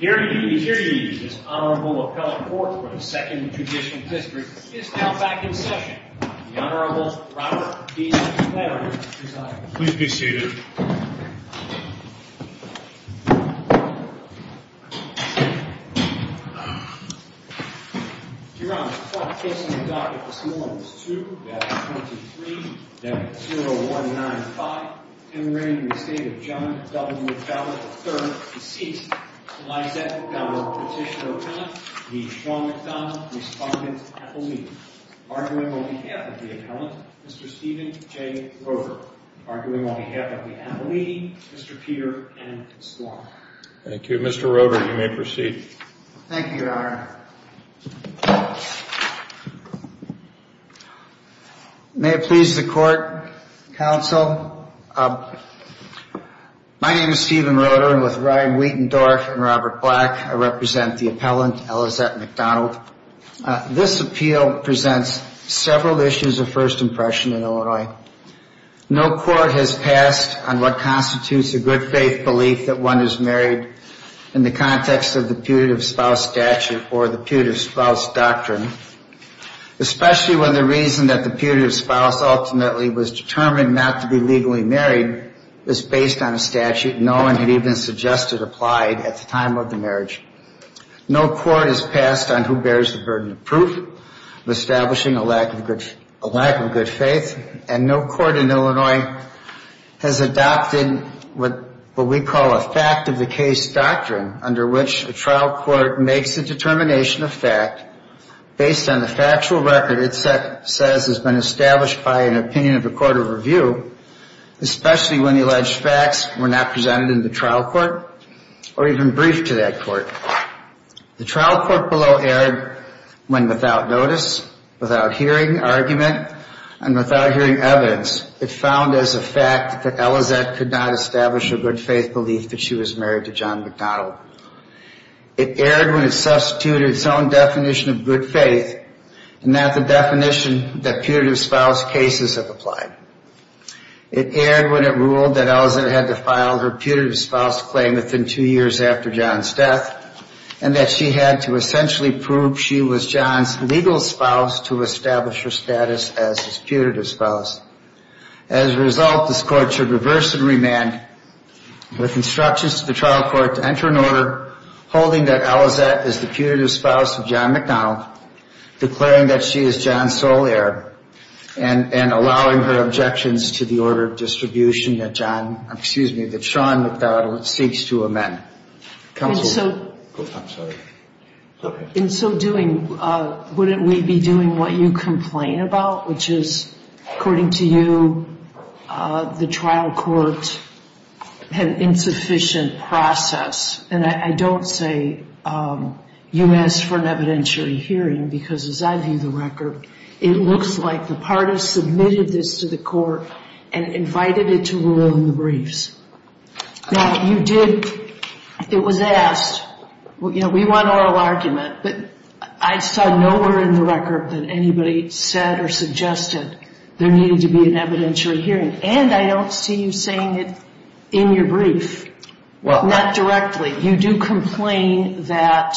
Here he is, here he is, this Honorable Appellate Court for the 2nd Judicial District is now back in session. The Honorable Robert B. Flannery is our judge. Please be seated. Your Honor, the court case on the docket this morning is 2-23-0195, commemorating the estate of John W. Fowler III, deceased, Elizabeth Fowler Petitioner-Appellant, the Sean McDonald Respondent-Appellee. Arguing on behalf of the Appellant, Mr. Steven J. Roeder. Arguing on behalf of the Appellee, Mr. Peter M. Swann. Thank you. Mr. Roeder, you may proceed. Thank you, Your Honor. May it please the Court, Counsel. My name is Steven Roeder, and with Ryan Wietendorf and Robert Black, I represent the Appellant, Elizabeth McDonald. This appeal presents several issues of first impression in Illinois. No court has passed on what constitutes a good faith belief that one is married in the context of the putative spouse statute or the putative spouse doctrine, especially when the reason that the putative spouse ultimately was determined not to be legally married is based on a statute no one had even suggested applied at the time of the marriage. No court has passed on who bears the burden of proof of establishing a lack of good faith, and no court in Illinois has adopted what we call a fact-of-the-case doctrine under which a trial court makes a determination of fact based on the factual record it says has been established by an opinion of the court of review, especially when the alleged facts were not presented in the trial court or even briefed to that court. The trial court below erred when without notice, without hearing argument, and without hearing evidence, it found as a fact that Elizabeth could not establish a good faith belief that she was married to John McDonald. It erred when it substituted its own definition of good faith and not the definition that putative spouse cases have applied. It erred when it ruled that Elizabeth had to file her putative spouse claim within two years after John's death and that she had to essentially prove she was John's legal spouse to establish her status as his putative spouse. As a result, this court should reverse and remand with instructions to the trial court to enter an order holding that Elizabeth is the putative spouse of John McDonald, declaring that she is John's sole heir, and allowing her objections to the order of distribution that John, excuse me, that Sean McDonald seeks to amend. Counsel? I'm sorry. In so doing, wouldn't we be doing what you complain about, which is, according to you, the trial court had an insufficient process? And I don't say you asked for an evidentiary hearing because, as I view the record, it looks like the parties submitted this to the court and invited it to rule in the briefs. Now, you did, it was asked, you know, we want oral argument, but I saw nowhere in the record that anybody said or suggested there needed to be an evidentiary hearing. And I don't see you saying it in your brief. Not directly. You do complain that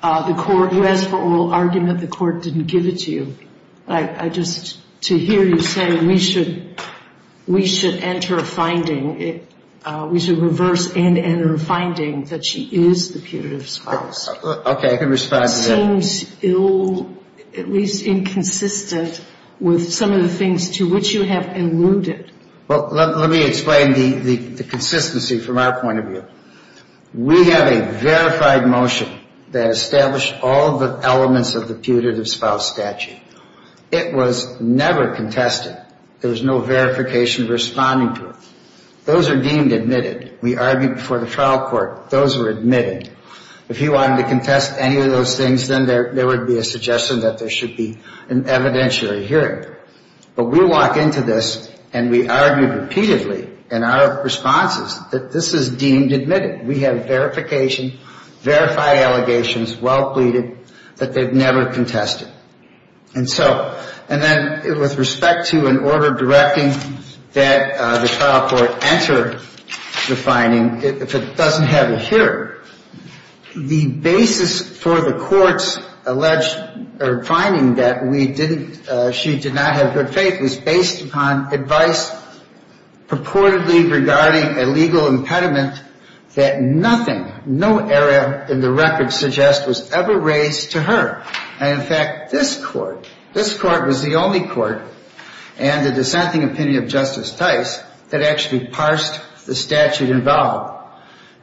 the court, you asked for oral argument. The court didn't give it to you. I just, to hear you say we should enter a finding, we should reverse and enter a finding that she is the putative spouse. Okay, I can respond to that. It seems ill, at least inconsistent, with some of the things to which you have alluded. Well, let me explain the consistency from our point of view. We have a verified motion that established all the elements of the putative spouse statute. It was never contested. There was no verification of responding to it. Those are deemed admitted. We argued before the trial court. Those were admitted. If you wanted to contest any of those things, then there would be a suggestion that there should be an evidentiary hearing. But we walk into this and we argued repeatedly in our responses that this is deemed admitted. We have verification, verified allegations, well pleaded, but they've never contested. And so, and then with respect to an order directing that the trial court enter the finding, if it doesn't have a hearing, the basis for the court's alleged finding that we didn't, she did not have good faith was based upon advice purportedly regarding a legal impediment that nothing, no area in the record suggests was ever raised to her. And, in fact, this court, this court was the only court, and the dissenting opinion of Justice Tice, that actually parsed the statute involved.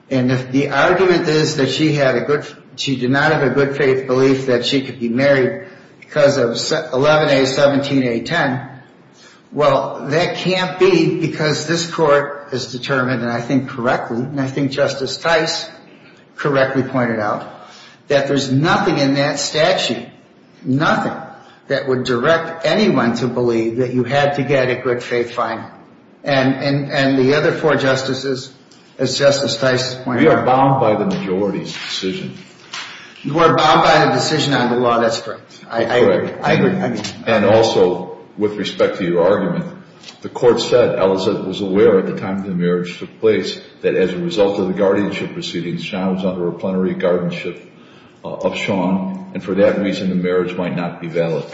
And if the argument is that she had a good, she did not have a good faith belief that she could be married because of 11A, 17A, 10, well, that can't be because this court has determined, and I think correctly, and I think Justice Tice correctly pointed out, that there's nothing in that statute, nothing that would direct anyone to believe that you had to get a good faith finding. And the other four justices, as Justice Tice pointed out. We are bound by the majority's decision. You are bound by the decision on the law. That's correct. I agree. And also, with respect to your argument, the court said, Elizabeth was aware at the time the marriage took place that as a result of the guardianship proceedings, Sean was under a plenary guardianship of Sean. And for that reason, the marriage might not be valid.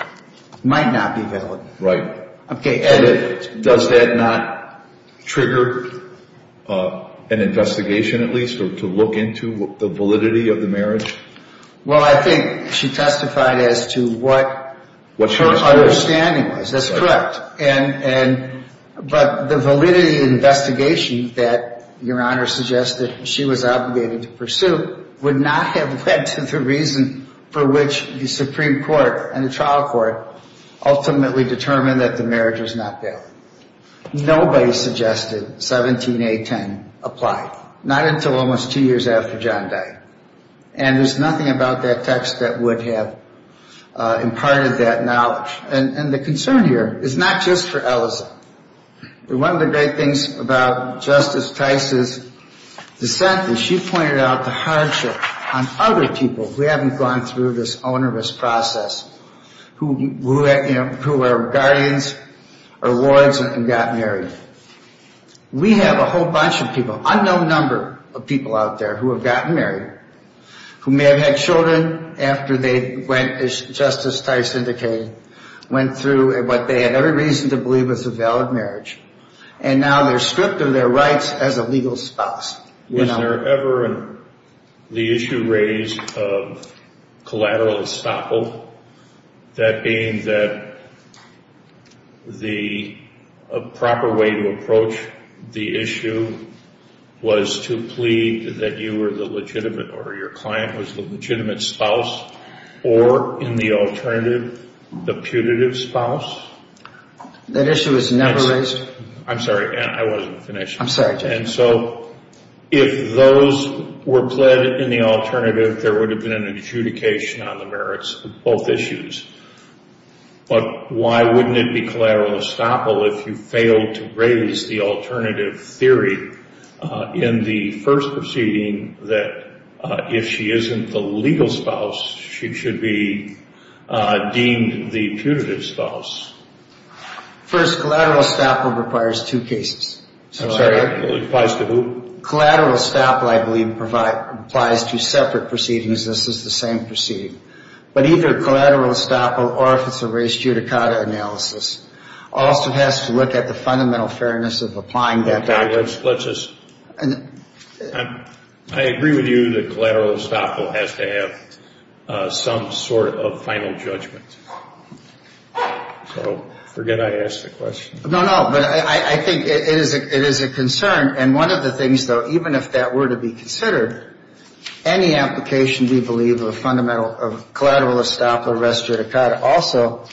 Might not be valid. Right. Okay. And does that not trigger an investigation, at least, or to look into the validity of the marriage? Well, I think she testified as to what her understanding was. That's correct. But the validity of the investigation that Your Honor suggested she was obligated to pursue would not have led to the reason for which the Supreme Court and the trial court ultimately determined that the marriage was not valid. Nobody suggested 17A10 applied. Not until almost two years after John died. And there's nothing about that text that would have imparted that knowledge. And the concern here is not just for Eliza. One of the great things about Justice Tice's dissent is she pointed out the hardship on other people who haven't gone through this onerous process, who were guardians or lords and got married. We have a whole bunch of people, unknown number of people out there, who have gotten married, who may have had children after they went, as Justice Tice indicated, went through what they had every reason to believe was a valid marriage. And now they're stripped of their rights as a legal spouse. Was there ever the issue raised of collateral estoppel? That being that the proper way to approach the issue was to plead that you were the legitimate or your client was the legitimate spouse or, in the alternative, the putative spouse? That issue was never raised. I'm sorry, I wasn't finished. I'm sorry, Judge. And so if those were pled in the alternative, there would have been an adjudication on the merits of both issues. But why wouldn't it be collateral estoppel if you failed to raise the alternative theory in the first proceeding that if she isn't the legal spouse, she should be deemed the putative spouse? First, collateral estoppel requires two cases. I'm sorry, it applies to who? Collateral estoppel, I believe, applies to separate proceedings. This is the same proceeding. But either collateral estoppel or if it's a res judicata analysis also has to look at the fundamental fairness of applying that doctrine. Let's just – I agree with you that collateral estoppel has to have some sort of final judgment. So forget I asked the question. No, no, but I think it is a concern. And one of the things, though, even if that were to be considered, any application, we believe, of a collateral estoppel or res judicata also,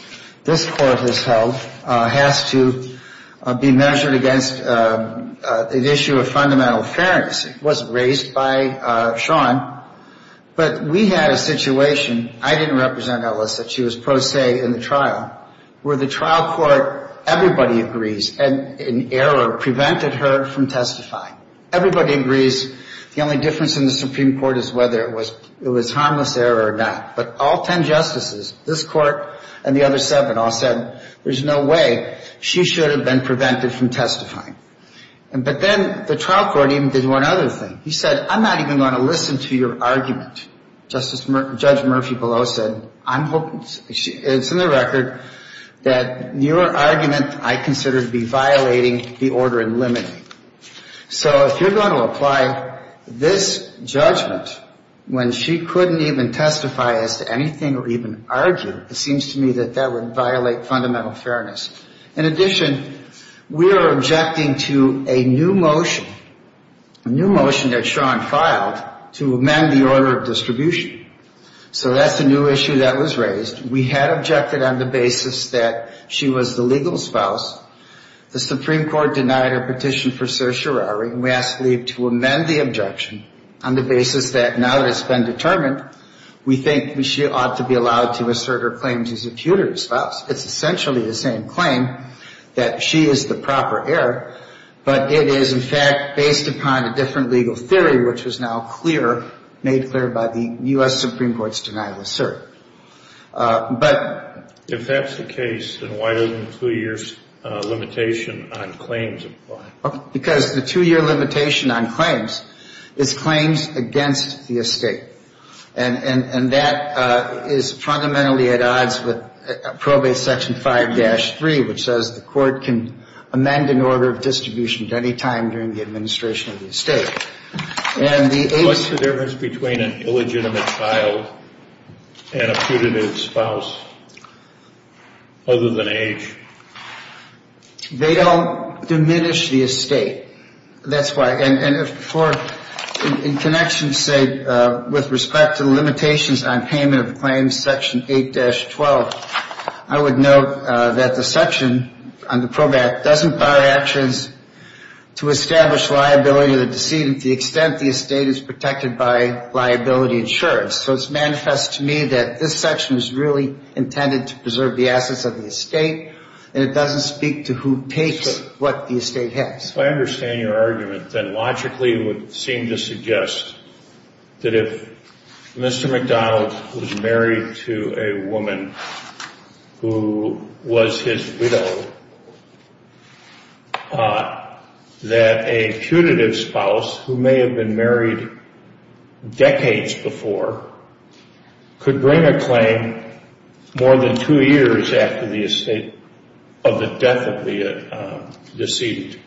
this Court has held, has to be measured against an issue of fundamental fairness. It wasn't raised by Sean, but we had a situation. I didn't represent Ellis. She was pro se in the trial. Where the trial court, everybody agrees, an error prevented her from testifying. Everybody agrees the only difference in the Supreme Court is whether it was harmless error or not. But all ten justices, this Court and the other seven, all said there's no way she should have been prevented from testifying. But then the trial court even did one other thing. He said, I'm not even going to listen to your argument. Judge Murphy below said, I'm hoping, it's in the record, that your argument I consider to be violating the order in limiting. So if you're going to apply this judgment when she couldn't even testify as to anything or even argue, it seems to me that that would violate fundamental fairness. In addition, we are objecting to a new motion, a new motion that Sean filed to amend the order of distribution. So that's a new issue that was raised. We had objected on the basis that she was the legal spouse. The Supreme Court denied her petition for certiorari. And we asked Lee to amend the objection on the basis that now that it's been determined, we think she ought to be allowed to assert her claims as a putative spouse. It's essentially the same claim, that she is the proper heir. But it is, in fact, based upon a different legal theory, which was now clear, made clear by the U.S. Supreme Court's denial of cert. But. If that's the case, then why doesn't the two-year limitation on claims apply? Because the two-year limitation on claims is claims against the estate. And that is fundamentally at odds with probate section 5-3, which says the court can amend an order of distribution at any time during the administration of the estate. And the difference between an illegitimate child and a putative spouse. Other than age. They don't diminish the estate. That's why. And in connection, say, with respect to the limitations on payment of claims, section 8-12, I would note that the section on the probate doesn't require actions to establish liability of the decedent to the extent the estate is protected by liability insurance. So it's manifest to me that this section is really intended to preserve the assets of the estate. And it doesn't speak to who takes what the estate has. If I understand your argument, then logically it would seem to suggest that if Mr. McDonald was married to a woman who was his widow, that a putative spouse, who may have been married decades before, could bring a claim more than two years after the estate of the death of the decedent.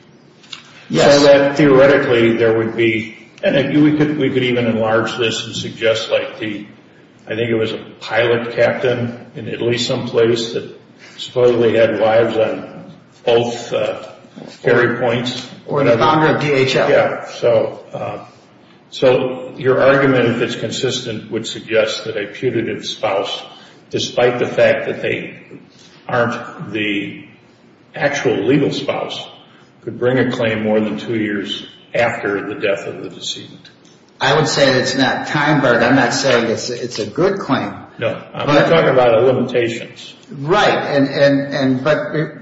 Yes. So that theoretically there would be, and we could even enlarge this and suggest like the, I think it was a pilot captain in Italy someplace that supposedly had lives on both carry points. Or an abounder of DHL. Yeah. So your argument, if it's consistent, would suggest that a putative spouse, despite the fact that they aren't the actual legal spouse, could bring a claim more than two years after the death of the decedent. I would say that it's not time-barred. I'm not saying it's a good claim. No. I'm talking about a limitation. Right.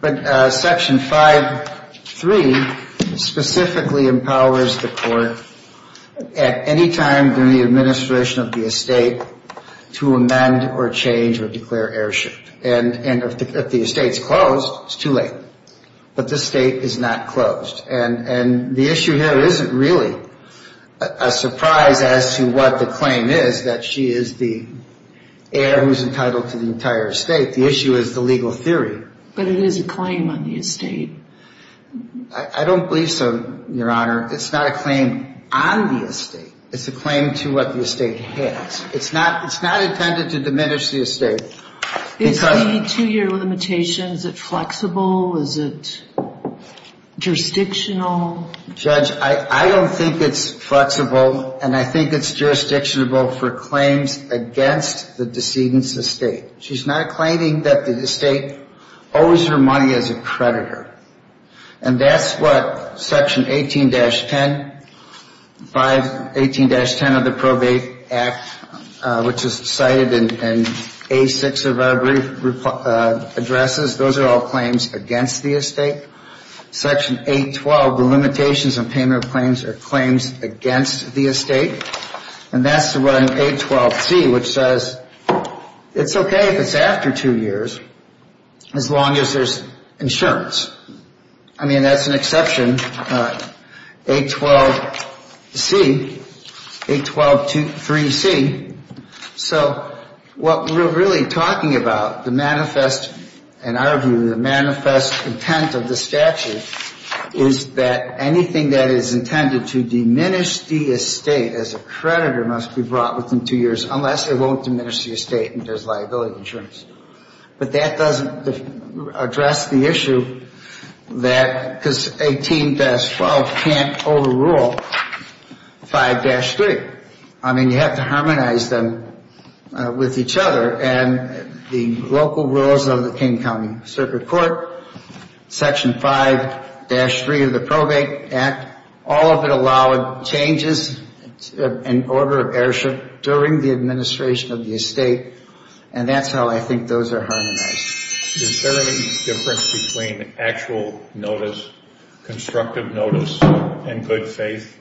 But Section 5.3 specifically empowers the court at any time during the administration of the estate to amend or change or declare heirship. And if the estate's closed, it's too late. But this estate is not closed. And the issue here isn't really a surprise as to what the claim is, that she is the heir who's entitled to the entire estate. The issue is the legal theory. But it is a claim on the estate. I don't believe so, Your Honor. It's not a claim on the estate. It's a claim to what the estate has. It's not intended to diminish the estate. Is the two-year limitation, is it flexible? Is it jurisdictional? Judge, I don't think it's flexible. And I think it's jurisdictional for claims against the decedent's estate. She's not claiming that the estate owes her money as a creditor. And that's what Section 18-10, 518-10 of the Probate Act, which is cited in A6 of our brief addresses, those are all claims against the estate. Section 812, the limitations on payment of claims are claims against the estate. And that's the one in 812C, which says it's okay if it's after two years as long as there's insurance. I mean, that's an exception, 812C, 8123C. So what we're really talking about, the manifest, in our view, the manifest intent of the statute, is that anything that is intended to diminish the estate as a creditor must be brought within two years, unless it won't diminish the estate and there's liability insurance. But that doesn't address the issue that, because 18-12 can't overrule 5-3. I mean, you have to harmonize them with each other. And the local rules of the King County Circuit Court, Section 5-3 of the Probate Act, all of it allowed changes in order of heirship during the administration of the estate. And that's how I think those are harmonized. Is there any difference between actual notice, constructive notice, and good faith?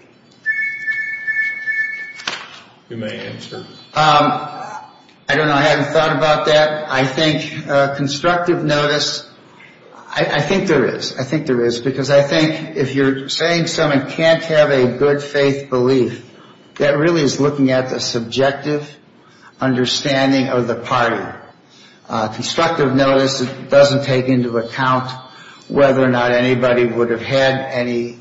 You may answer. I don't know. I haven't thought about that. I think constructive notice, I think there is. I think there is, because I think if you're saying someone can't have a good faith belief, that really is looking at the subjective understanding of the party. Constructive notice doesn't take into account whether or not anybody would have had any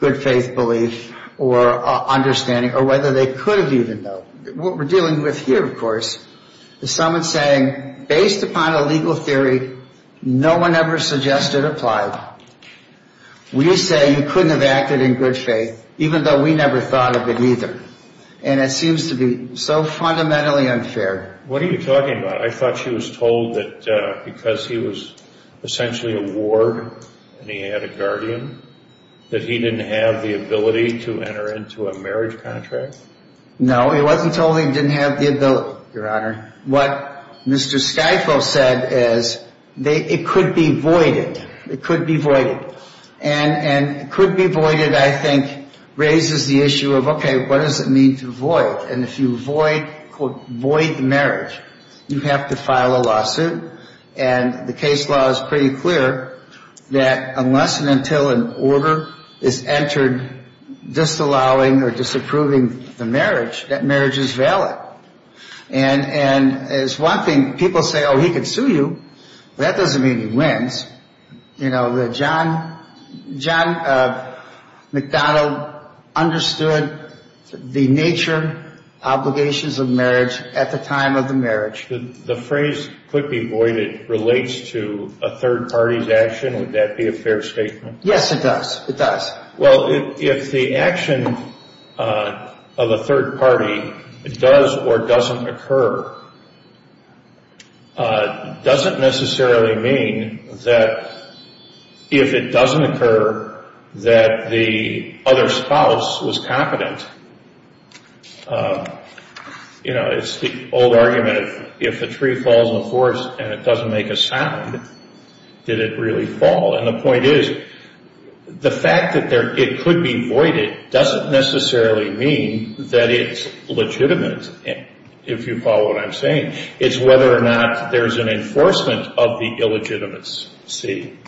good faith belief or understanding, or whether they could have even, though. What we're dealing with here, of course, is someone saying, based upon a legal theory, no one ever suggested applied. We say you couldn't have acted in good faith, even though we never thought of it either. And it seems to be so fundamentally unfair. What are you talking about? I thought she was told that because he was essentially a ward and he had a guardian, that he didn't have the ability to enter into a marriage contract? No, he wasn't told he didn't have the ability, Your Honor. What Mr. Skyfo said is, it could be voided. It could be voided. And could be voided, I think, raises the issue of, okay, what does it mean to void? And if you void the marriage, you have to file a lawsuit. And the case law is pretty clear that unless and until an order is entered disallowing or disapproving the marriage, that marriage is valid. And as one thing, people say, oh, he could sue you. That doesn't mean he wins. John McDonald understood the nature, obligations of marriage at the time of the marriage. The phrase could be voided relates to a third party's action. Would that be a fair statement? Yes, it does. It does. Well, if the action of a third party does or doesn't occur, doesn't necessarily mean that if it doesn't occur, that the other spouse was competent. You know, it's the old argument, if a tree falls in a forest and it doesn't make a sound, did it really fall? And the point is, the fact that it could be voided doesn't necessarily mean that it's legitimate, if you follow what I'm saying. It's whether or not there's an enforcement of the illegitimacy.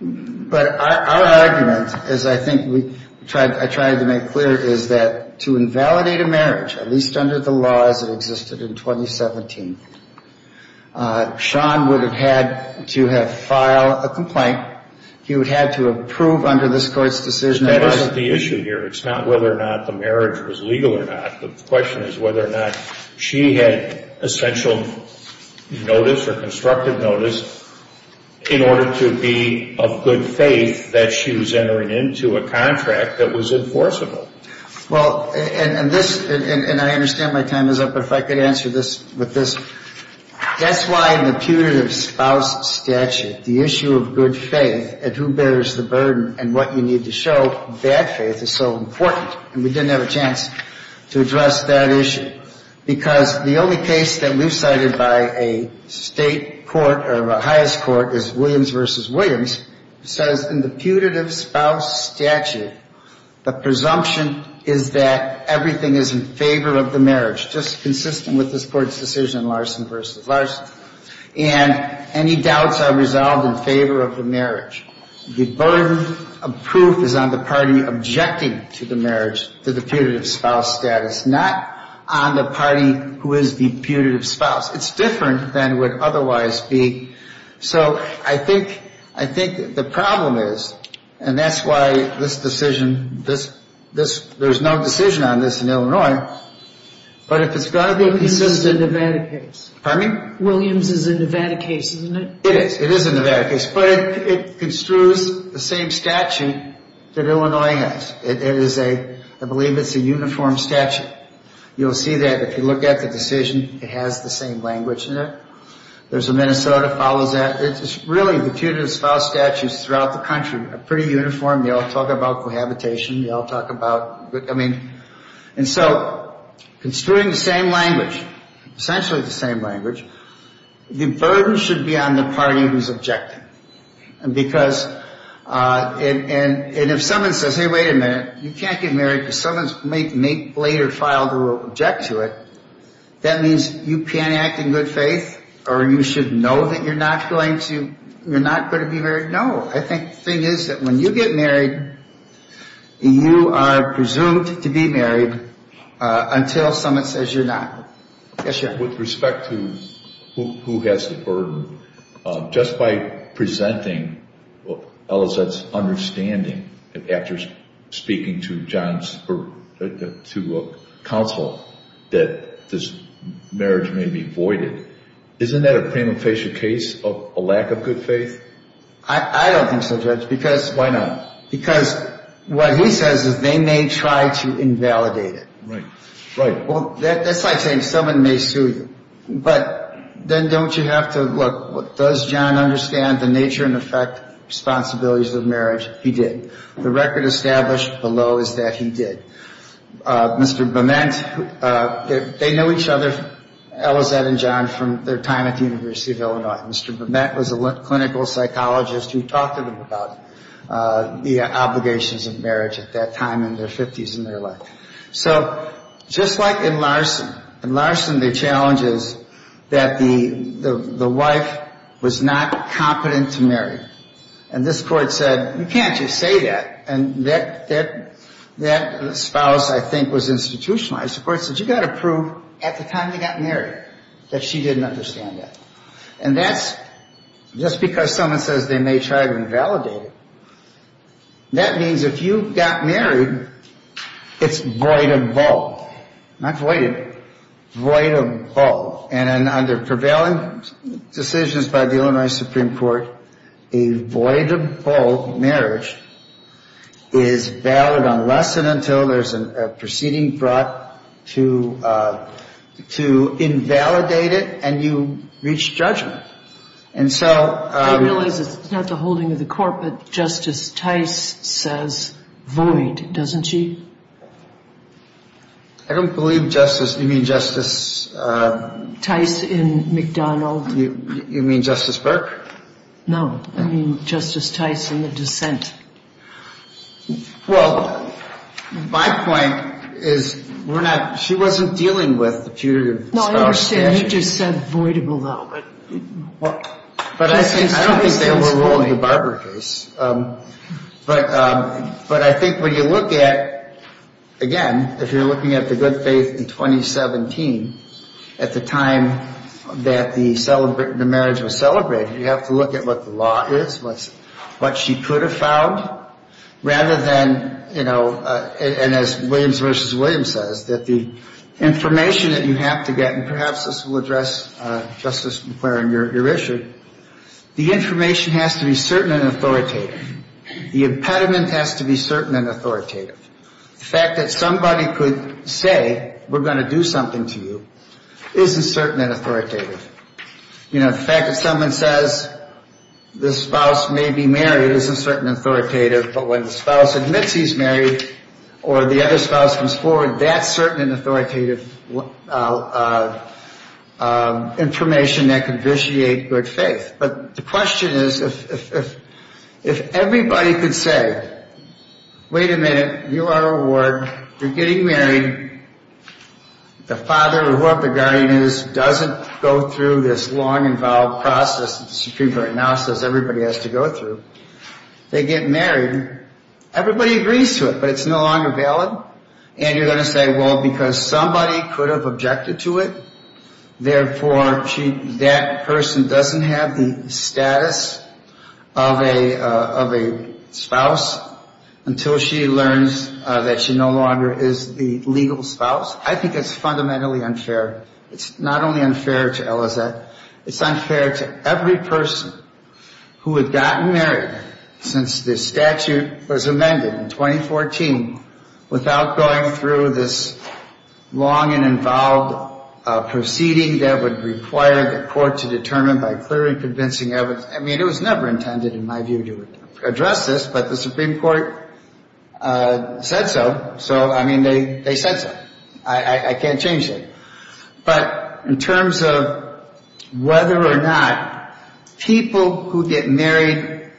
But our argument, as I think I tried to make clear, is that to invalidate a marriage, at least under the laws that existed in 2017, Sean would have had to have filed a complaint. He would have had to approve under this Court's decision. That isn't the issue here. It's not whether or not the marriage was legal or not. The question is whether or not she had essential notice or constructive notice in order to be of good faith that she was entering into a contract that was enforceable. Well, and this, and I understand my time is up, but if I could answer this with this. Guess why in the putative spouse statute, the issue of good faith and who bears the burden and what you need to show, bad faith is so important. And we didn't have a chance to address that issue. Because the only case that we've cited by a state court or a highest court is Williams v. Williams, who says in the putative spouse statute the presumption is that everything is in favor of the marriage, just consistent with this Court's decision, Larson v. Larson. And any doubts are resolved in favor of the marriage. The burden of proof is on the party objecting to the marriage, to the putative spouse status, not on the party who is the putative spouse. It's different than it would otherwise be. So I think the problem is, and that's why this decision, there's no decision on this in Illinois, but if it's going to be consistent. Williams is a Nevada case. Pardon me? Williams is a Nevada case, isn't it? It is. It is a Nevada case. But it construes the same statute that Illinois has. It is a, I believe it's a uniform statute. You'll see that if you look at the decision, it has the same language in it. There's a Minnesota, follows that. It's really the putative spouse statutes throughout the country are pretty uniform. They all talk about cohabitation. They all talk about, I mean, and so construing the same language, essentially the same language, the burden should be on the party who's objecting. And because, and if someone says, hey, wait a minute, you can't get married because someone may later file to object to it, that means you can't act in good faith or you should know that you're not going to be married. No. I think the thing is that when you get married, you are presumed to be married until someone says you're not. Yes, sir? With respect to who has the burden, just by presenting Ellicett's understanding, after speaking to John's, to counsel, that this marriage may be voided, isn't that a prima facie case of a lack of good faith? I don't think so, Judge, because. Why not? Because what he says is they may try to invalidate it. Right, right. Well, that's like saying someone may sue you, but then don't you have to, look, does John understand the nature and effect responsibilities of marriage? He did. The record established below is that he did. Mr. Bement, they know each other, Ellicett and John, from their time at the University of Illinois. Mr. Bement was a clinical psychologist who talked to them about the obligations of marriage at that time in their 50s and their life. So just like in Larson, in Larson the challenge is that the wife was not competent to marry. And this court said, you can't just say that. And that spouse, I think, was institutionalized. The court said, you've got to prove at the time they got married that she didn't understand that. And that's just because someone says they may try to invalidate it. That means if you got married, it's voidable. Not voided, voidable. And under prevailing decisions by the Illinois Supreme Court, a voidable marriage is valid unless and until there's a proceeding brought to invalidate it and you reach judgment. And so ‑‑ I realize it's not the holding of the court, but Justice Tice says void, doesn't she? I don't believe Justice ‑‑ you mean Justice ‑‑ Tice in McDonald. You mean Justice Burke? No, I mean Justice Tice in the dissent. Well, my point is we're not ‑‑ she wasn't dealing with the period of starvation. No, I understand. You just said voidable, though. But I don't think they were ruling the Barber case. But I think when you look at, again, if you're looking at the good faith in 2017, at the time that the marriage was celebrated, you have to look at what the law is, what she could have found, rather than, you know, and as Williams versus Williams says, that the information that you have to get, and perhaps this will address, Justice McClaren, your issue, the information has to be certain and authoritative. The impediment has to be certain and authoritative. The fact that somebody could say we're going to do something to you isn't certain and authoritative. You know, the fact that someone says the spouse may be married isn't certain and authoritative, but when the spouse admits he's married or the other spouse comes forward, that's certain and authoritative information that can vitiate good faith. But the question is, if everybody could say, wait a minute, you are a ward, you're getting married, the father or whoever the guardian is doesn't go through this long, involved process that the Supreme Court now says everybody has to go through, they get married, everybody agrees to it, but it's no longer valid. And you're going to say, well, because somebody could have objected to it, therefore that person doesn't have the status of a spouse until she learns that she no longer is the legal spouse. I think it's fundamentally unfair. It's not only unfair to Elizette, it's unfair to every person who had gotten married since this statute was amended in 2014 without going through this long and involved proceeding that would require the court to determine by clearly convincing evidence. I mean, it was never intended, in my view, to address this, but the Supreme Court said so. So, I mean, they said so. I can't change that. But in terms of whether or not people who get married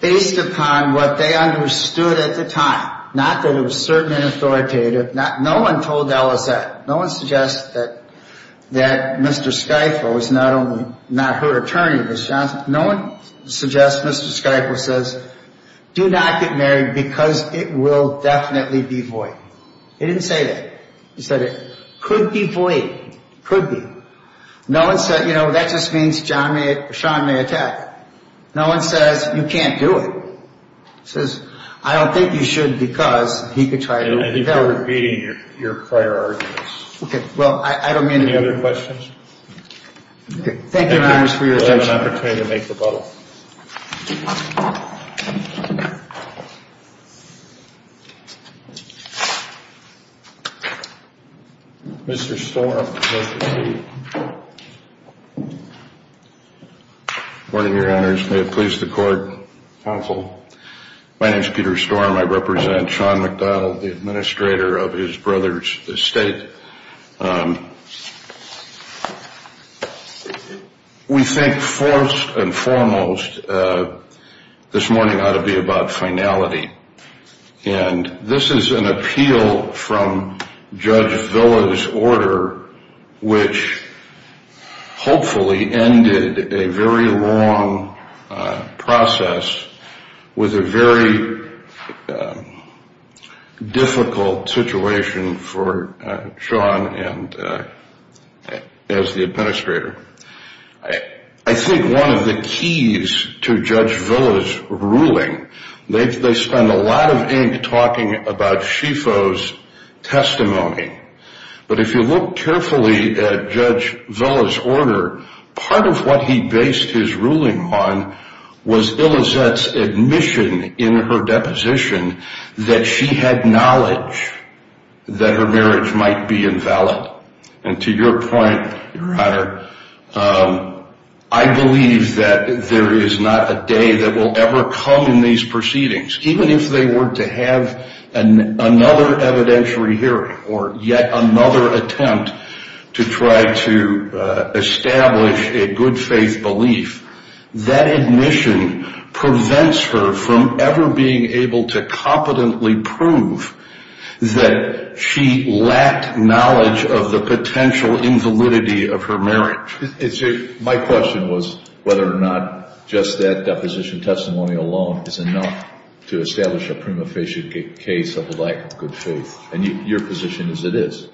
based upon what they understood at the time, not that it was certain and authoritative, no one told Elizette, no one suggested that Mr. Skyfo was not only, not her attorney, but Johnson, no one suggests Mr. Skyfo says, do not get married because it will definitely be void. They didn't say that. They said it could be void, could be. No one said, you know, that just means John may, Sean may attack. No one says, you can't do it. It says, I don't think you should because he could try to repeal it. And if you're repeating your prior arguments. Okay, well, I don't mean to. Any other questions? Thank you, Your Honor, for your attention. We'll have an opportunity to make rebuttal. Mr. Storm. Good morning, Your Honor. May it please the court. Counsel. My name is Peter Storm. I represent Sean McDowell, the administrator of his brother's estate. We think first and foremost this morning ought to be about finality. And this is an appeal from Judge Villa's order, which hopefully ended a very long process with a very difficult situation for Sean as the administrator. I think one of the keys to Judge Villa's ruling, they spend a lot of ink talking about SHIFO's testimony. But if you look carefully at Judge Villa's order, part of what he based his ruling on was Ilizette's admission in her deposition that she had knowledge that her marriage might be invalid. And to your point, Your Honor, I believe that there is not a day that will ever come in these proceedings. Even if they were to have another evidentiary hearing or yet another attempt to try to establish a good faith belief, that admission prevents her from ever being able to competently prove that she lacked knowledge of the potential invalidity of her marriage. My question was whether or not just that deposition testimony alone is enough to establish a prima facie case of lack of good faith. And your position is it is.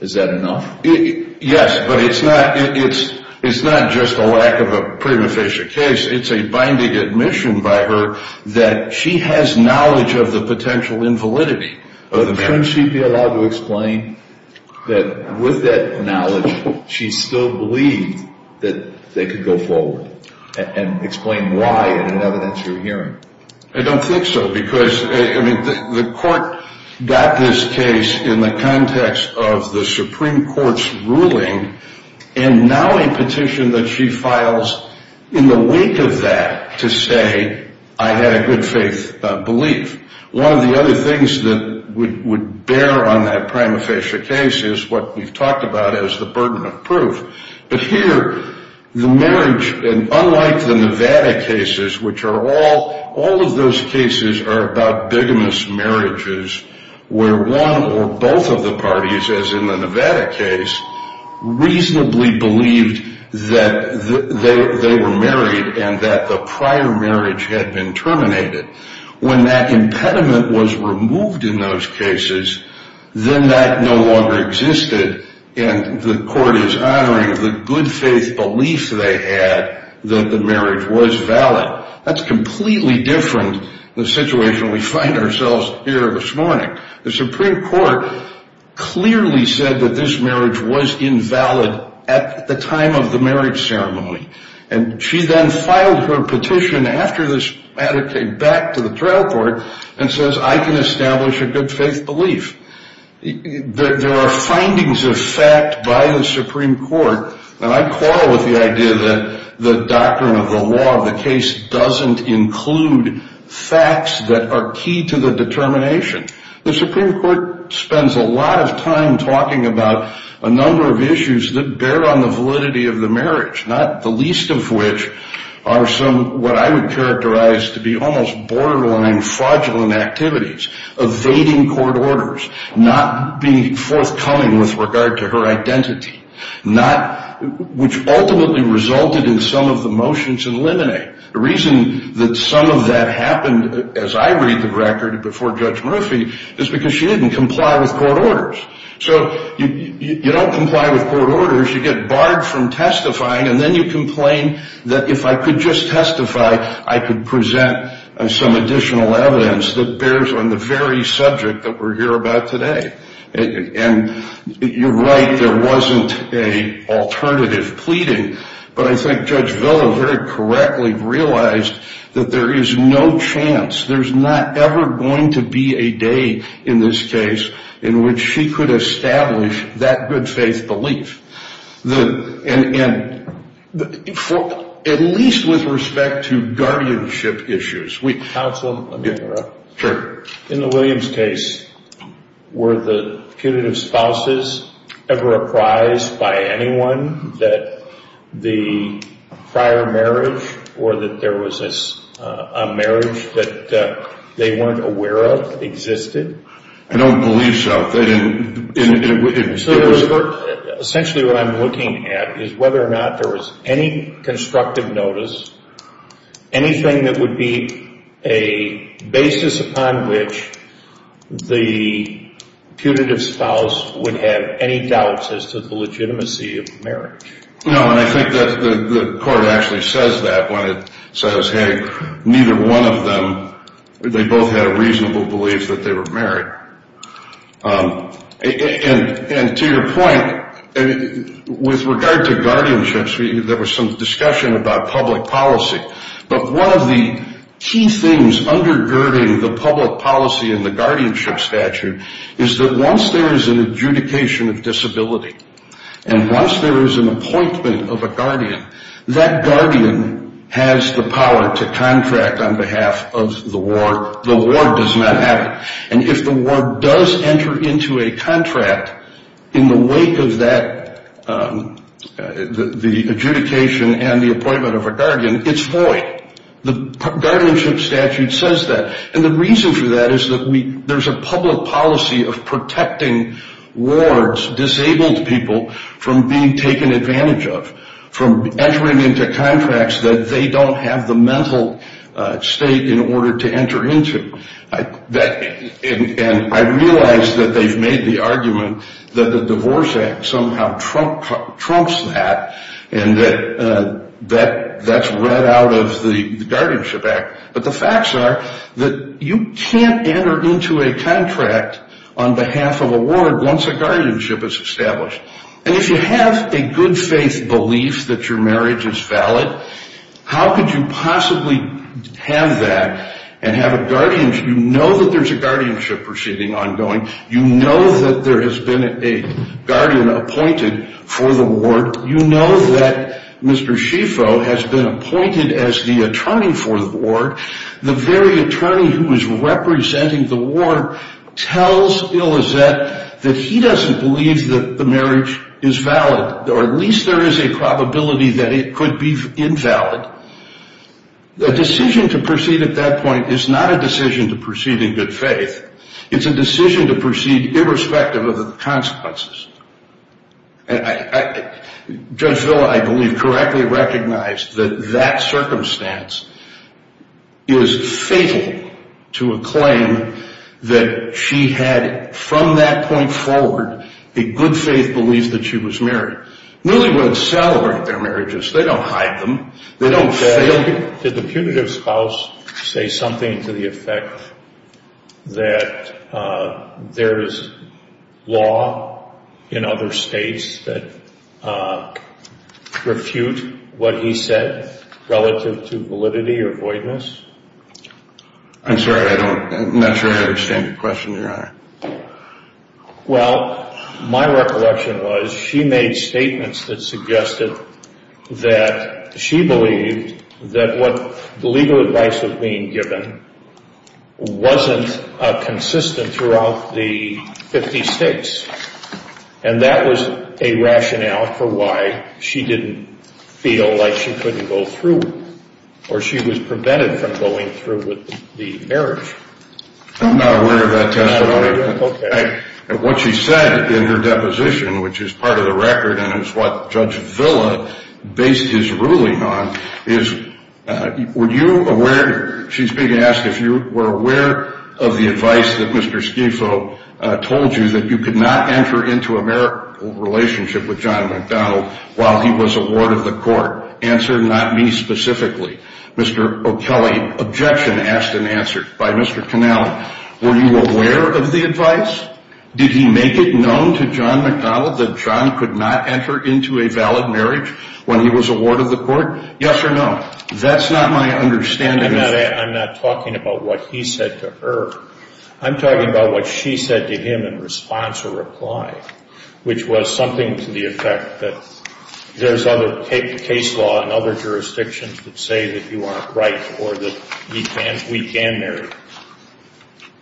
Is that enough? Yes, but it's not just a lack of a prima facie case. It's a binding admission by her that she has knowledge of the potential invalidity of the marriage. Shouldn't she be allowed to explain that with that knowledge she still believed that they could go forward and explain why in an evidentiary hearing? I don't think so, because the court got this case in the context of the Supreme Court's ruling and now a petition that she files in the wake of that to say I had a good faith belief. One of the other things that would bear on that prima facie case is what we've talked about as the burden of proof. But here, the marriage, and unlike the Nevada cases, which are all of those cases are about bigamous marriages where one or both of the parties, as in the Nevada case, reasonably believed that they were married and that the prior marriage had been terminated. When that impediment was removed in those cases, then that no longer existed and the court is honoring the good faith belief they had that the marriage was valid. That's completely different from the situation we find ourselves in here this morning. The Supreme Court clearly said that this marriage was invalid at the time of the marriage ceremony and she then filed her petition after this matter came back to the trial court and says I can establish a good faith belief. There are findings of fact by the Supreme Court, and I quarrel with the idea that the doctrine of the law of the case doesn't include facts that are key to the determination. The Supreme Court spends a lot of time talking about a number of issues that bear on the validity of the marriage, not the least of which are some, what I would characterize to be almost borderline fraudulent activities, evading court orders, not being forthcoming with regard to her identity, which ultimately resulted in some of the motions eliminated. The reason that some of that happened, as I read the record before Judge Murphy, is because she didn't comply with court orders. So you don't comply with court orders, you get barred from testifying, and then you complain that if I could just testify, I could present some additional evidence that bears on the very subject that we're here about today. And you're right, there wasn't an alternative pleading, but I think Judge Villa very correctly realized that there is no chance, there's not ever going to be a day in this case in which she could establish that good faith belief, at least with respect to guardianship issues. Counsel, let me interrupt. Sure. In the Williams case, were the punitive spouses ever apprised by anyone that the prior marriage or that there was a marriage that they weren't aware of existed? I don't believe so. Essentially what I'm looking at is whether or not there was any constructive notice, anything that would be a basis upon which the punitive spouse would have any doubts as to the legitimacy of marriage. No, and I think that the court actually says that when it says, hey, neither one of them, they both had a reasonable belief that they were married. And to your point, with regard to guardianship, there was some discussion about public policy, but one of the key things undergirding the public policy in the guardianship statute is that once there is an adjudication of disability and once there is an appointment of a guardian, that guardian has the power to contract on behalf of the ward. The ward does not have it. And if the ward does enter into a contract in the wake of the adjudication and the appointment of a guardian, it's void. The guardianship statute says that. And the reason for that is that there's a public policy of protecting wards, disabled people, from being taken advantage of, from entering into contracts that they don't have the mental state in order to enter into. And I realize that they've made the argument that the Divorce Act somehow trumps that and that that's read out of the Guardianship Act. But the facts are that you can't enter into a contract on behalf of a ward once a guardianship is established. And if you have a good-faith belief that your marriage is valid, how could you possibly have that and have a guardianship? You know that there's a guardianship proceeding ongoing. You know that there has been a guardian appointed for the ward. You know that Mr. Schieffo has been appointed as the attorney for the ward. The very attorney who is representing the ward tells Ilizet that he doesn't believe that the marriage is valid, or at least there is a probability that it could be invalid. The decision to proceed at that point is not a decision to proceed in good faith. It's a decision to proceed irrespective of the consequences. And Judge Villa, I believe, correctly recognized that that circumstance is fatal to a claim that she had, from that point forward, a good-faith belief that she was married. Newlyweds celebrate their marriages. They don't hide them. They don't fail them. Did the punitive spouse say something to the effect that there is law in other states that refute what he said relative to validity or voidness? I'm sorry. I don't naturally understand your question, Your Honor. Well, my recollection was she made statements that suggested that she believed that what legal advice was being given wasn't consistent throughout the 50 states. And that was a rationale for why she didn't feel like she couldn't go through or she was prevented from going through with the marriage. I'm not aware of that testimony. Okay. And what she said in her deposition, which is part of the record and is what Judge Villa based his ruling on, is were you aware, she's being asked if you were aware of the advice that Mr. Schifo told you that you could not enter into a marital relationship with John McDonnell while he was a ward of the court. Answer, not me specifically. Mr. O'Kelly, objection asked and answered by Mr. Connell. Were you aware of the advice? Did he make it known to John McDonnell that John could not enter into a valid marriage when he was a ward of the court? Yes or no? That's not my understanding. I'm not talking about what he said to her. I'm talking about what she said to him in response or reply, which was something to the effect that there's other case law and other jurisdictions that say that you aren't right or that we can marry.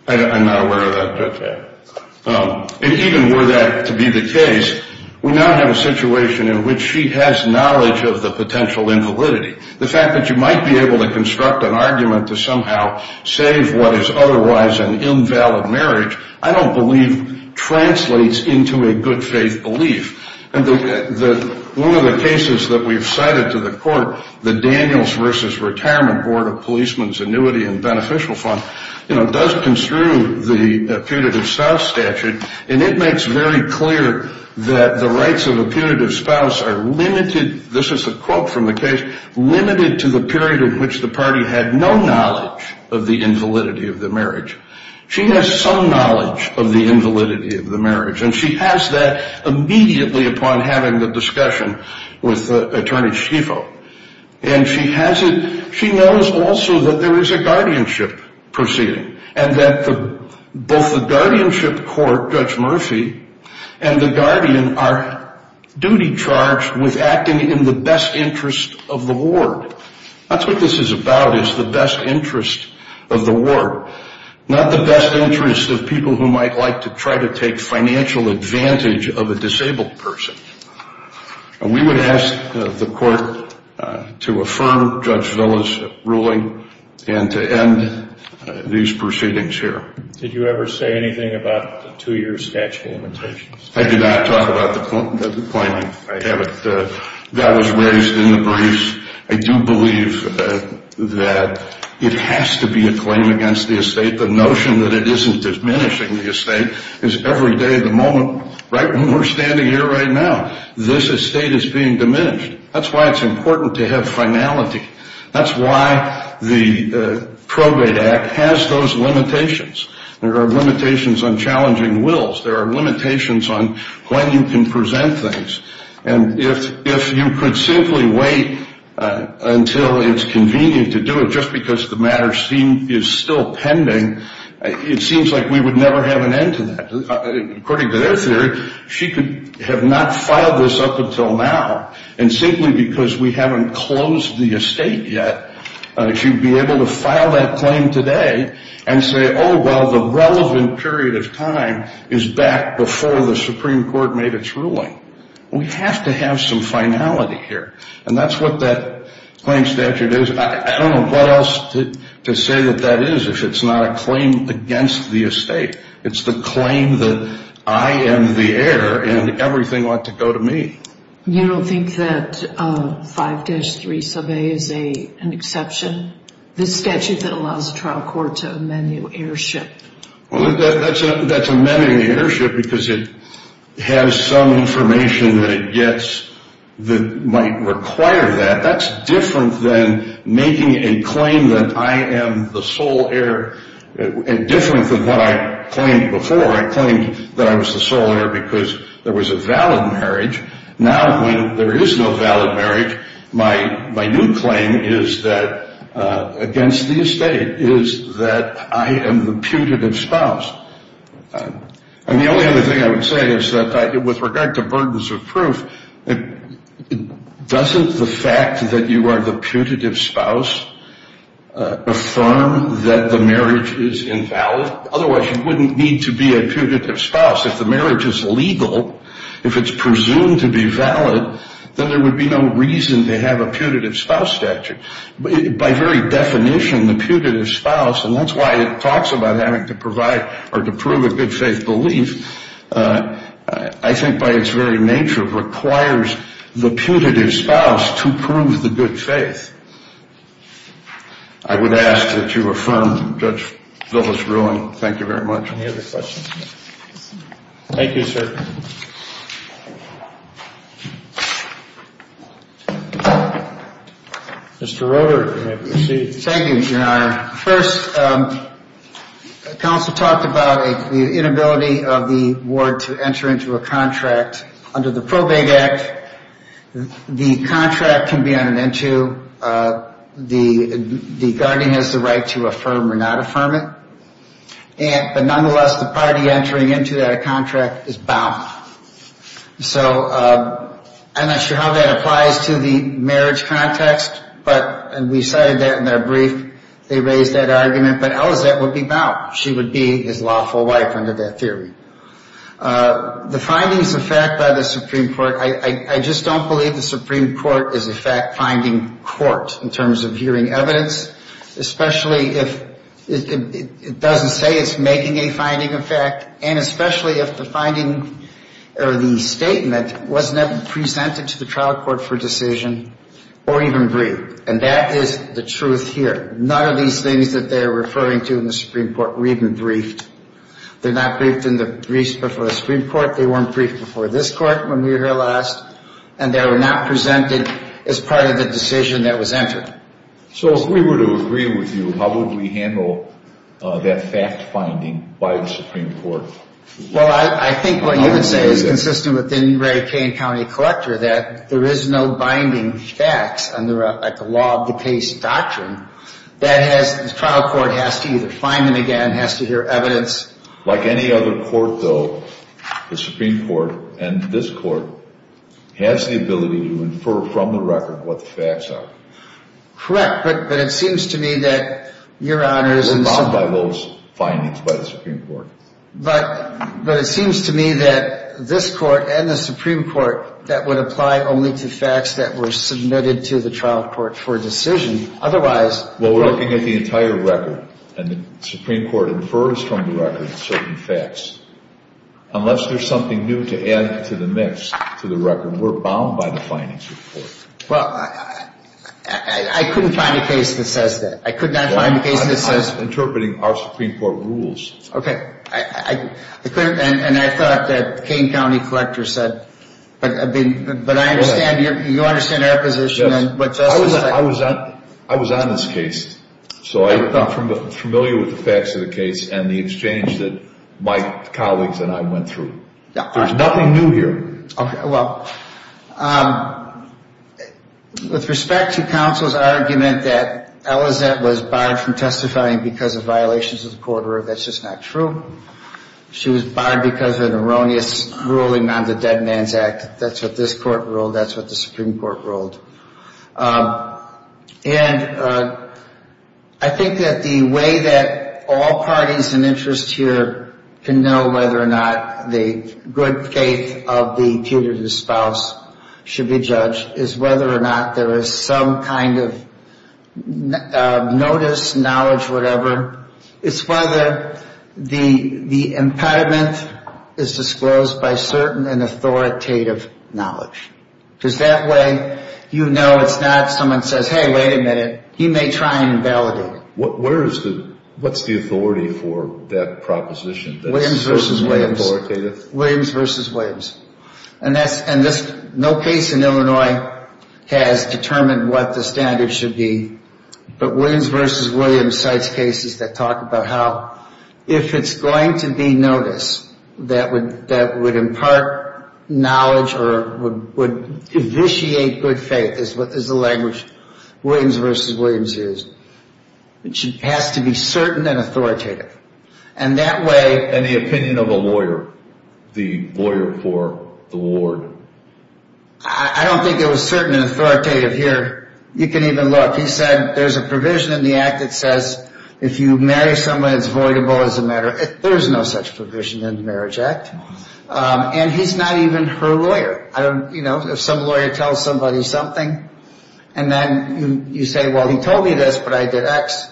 I'm not aware of that. Okay. And even were that to be the case, we now have a situation in which she has knowledge of the potential invalidity. The fact that you might be able to construct an argument to somehow save what is otherwise an invalid marriage, I don't believe translates into a good faith belief. And one of the cases that we've cited to the court, the Daniels versus Retirement Board of Policemen's Annuity and Beneficial Fund, you know, does construe the punitive spouse statute, and it makes very clear that the rights of a punitive spouse are limited, this is a quote from the case, limited to the period in which the party had no knowledge of the invalidity of the marriage. She has some knowledge of the invalidity of the marriage, and she has that immediately upon having the discussion with Attorney Schifo. And she knows also that there is a guardianship proceeding and that both the guardianship court, Judge Murphy, and the guardian are duty charged with acting in the best interest of the ward. That's what this is about is the best interest of the ward. Not the best interest of people who might like to try to take financial advantage of a disabled person. And we would ask the court to affirm Judge Villa's ruling and to end these proceedings here. Did you ever say anything about the two-year statute of limitations? I did not talk about the pointing. I haven't. That was raised in the briefs. I do believe that it has to be a claim against the estate. The notion that it isn't diminishing the estate is every day of the moment, right when we're standing here right now, this estate is being diminished. That's why it's important to have finality. That's why the Probate Act has those limitations. There are limitations on challenging wills. There are limitations on when you can present things. And if you could simply wait until it's convenient to do it just because the matter is still pending, it seems like we would never have an end to that. According to their theory, she could have not filed this up until now. And simply because we haven't closed the estate yet, she would be able to file that claim today and say, oh, well, the relevant period of time is back before the Supreme Court made its ruling. We have to have some finality here. And that's what that claim statute is. I don't know what else to say that that is if it's not a claim against the estate. It's the claim that I am the heir and everything ought to go to me. You don't think that 5-3 sub a is an exception? The statute that allows the trial court to amend your heirship. Well, that's amending the heirship because it has some information that it gets that might require that. That's different than making a claim that I am the sole heir and different than what I claimed before. I claimed that I was the sole heir because there was a valid marriage. Now, when there is no valid marriage, my new claim is that against the estate is that I am the putative spouse. And the only other thing I would say is that with regard to burdens of proof, doesn't the fact that you are the putative spouse affirm that the marriage is invalid? Otherwise, you wouldn't need to be a putative spouse. If the marriage is legal, if it's presumed to be valid, then there would be no reason to have a putative spouse statute. By very definition, the putative spouse, and that's why it talks about having to provide or to prove a good faith belief, I think by its very nature requires the putative spouse to prove the good faith. I would ask that you affirm Judge Zillow's ruling. Thank you very much. Any other questions? Thank you, sir. Mr. Roeder, you may proceed. Thank you, Your Honor. First, counsel talked about the inability of the ward to enter into a contract. Under the Probate Act, the contract can be on and into. The guardian has the right to affirm or not affirm it. But nonetheless, the party entering into that contract is bound. So I'm not sure how that applies to the marriage context, but we cited that in our brief. They raised that argument, but Elizette would be bound. She would be his lawful wife under that theory. The findings of fact by the Supreme Court, I just don't believe the Supreme Court is a fact-finding court in terms of hearing evidence, especially if it doesn't say it's making a finding of fact, and especially if the finding or the statement wasn't presented to the trial court for decision or even briefed. And that is the truth here. None of these things that they are referring to in the Supreme Court were even briefed. They're not briefed in the briefs before the Supreme Court. They weren't briefed before this court when we were here last, and they were not presented as part of the decision that was entered. So if we were to agree with you, how would we handle that fact-finding by the Supreme Court? Well, I think what you would say is consistent with the Ray Kane County Collector, that there is no binding facts under a law-of-the-case doctrine. The trial court has to either find them again, has to hear evidence. Like any other court, though, the Supreme Court and this court has the ability to infer from the record what the facts are. Correct, but it seems to me that your Honor is in some— We're bound by those findings by the Supreme Court. But it seems to me that this court and the Supreme Court, that would apply only to facts that were submitted to the trial court for decision. Otherwise— Well, we're looking at the entire record, and the Supreme Court infers from the record certain facts. Unless there's something new to add to the mix, to the record, we're bound by the findings of the court. Well, I couldn't find a case that says that. I could not find a case that says— Well, I'm interpreting our Supreme Court rules. Okay. And I thought that the Kane County Collector said, but I understand, you understand our position. I was on this case, so I'm familiar with the facts of the case and the exchange that my colleagues and I went through. There's nothing new here. Okay, well, with respect to counsel's argument that Elizette was barred from testifying because of violations of the court order, that's just not true. She was barred because of an erroneous ruling on the Dead Man's Act. That's what this court ruled. That's what the Supreme Court ruled. And I think that the way that all parties in interest here can know whether or not the good faith of the putative spouse should be judged is whether or not there is some kind of notice, knowledge, whatever. It's whether the impediment is disclosed by certain and authoritative knowledge. Because that way you know it's not someone says, hey, wait a minute, he may try and invalidate it. What's the authority for that proposition? Williams v. Williams. And no case in Illinois has determined what the standard should be. But Williams v. Williams cites cases that talk about how if it's going to be noticed, that would impart knowledge or would vitiate good faith is the language. Williams v. Williams is. It has to be certain and authoritative. And the opinion of a lawyer, the lawyer for the ward. I don't think it was certain and authoritative here. You can even look. He said there's a provision in the act that says if you marry someone, it's voidable as a matter. There's no such provision in the Marriage Act. And he's not even her lawyer. You know, if some lawyer tells somebody something and then you say, well, he told me this, but I did X.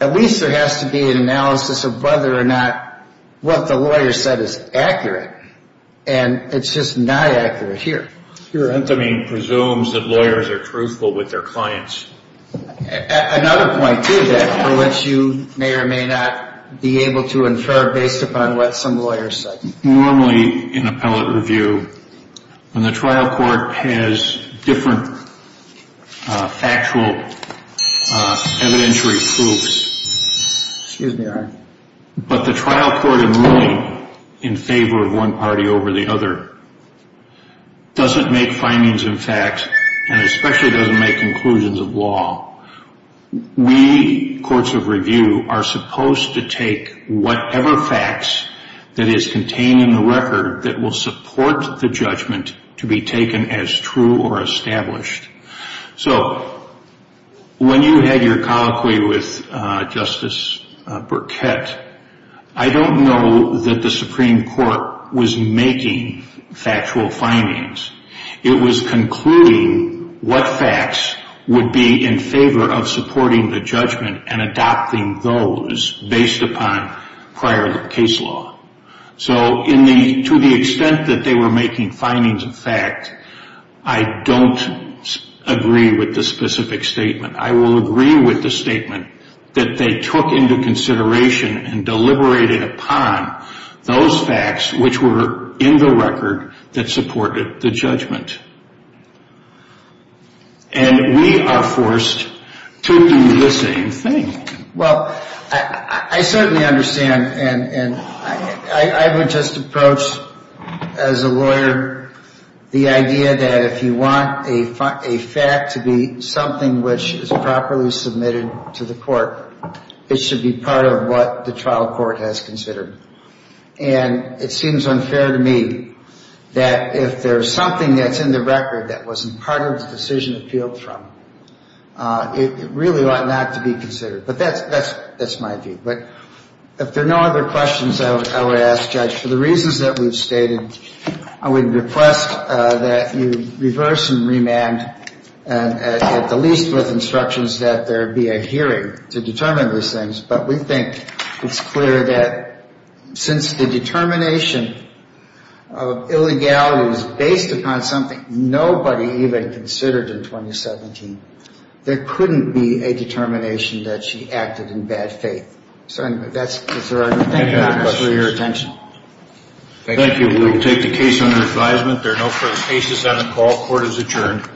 At least there has to be an analysis of whether or not what the lawyer said is accurate. And it's just not accurate here. Your end. I mean, presumes that lawyers are truthful with their clients. Another point to that for which you may or may not be able to infer based upon what some lawyers say. Normally in appellate review, when the trial court has different factual evidentiary proofs. But the trial court in favor of one party over the other. Doesn't make findings and facts and especially doesn't make conclusions of law. We, courts of review, are supposed to take whatever facts that is contained in the record that will support the judgment to be taken as true or established. So when you had your colloquy with Justice Burkett, I don't know that the Supreme Court was making factual findings. It was concluding what facts would be in favor of supporting the judgment and adopting those based upon prior case law. So to the extent that they were making findings of fact, I don't agree with the specific statement. I will agree with the statement that they took into consideration and deliberated upon those facts which were in the record that supported the judgment. And we are forced to do the same thing. Well, I certainly understand. And I would just approach as a lawyer the idea that if you want a fact to be something which is properly submitted to the court, it should be part of what the trial court has considered. And it seems unfair to me that if there's something that's in the record that wasn't part of the decision appealed from, it really ought not to be considered. But that's my view. But if there are no other questions I would ask, Judge, for the reasons that we've stated, I would request that you reverse and remand at the least with instructions that there be a hearing to determine these things. But we think it's clear that since the determination of illegality was based upon something nobody even considered in 2017, there couldn't be a determination that she acted in bad faith. So that's the right answer. Thank you for your attention. Thank you. We'll take the case under advisement. There are no further cases on the call. Court is adjourned.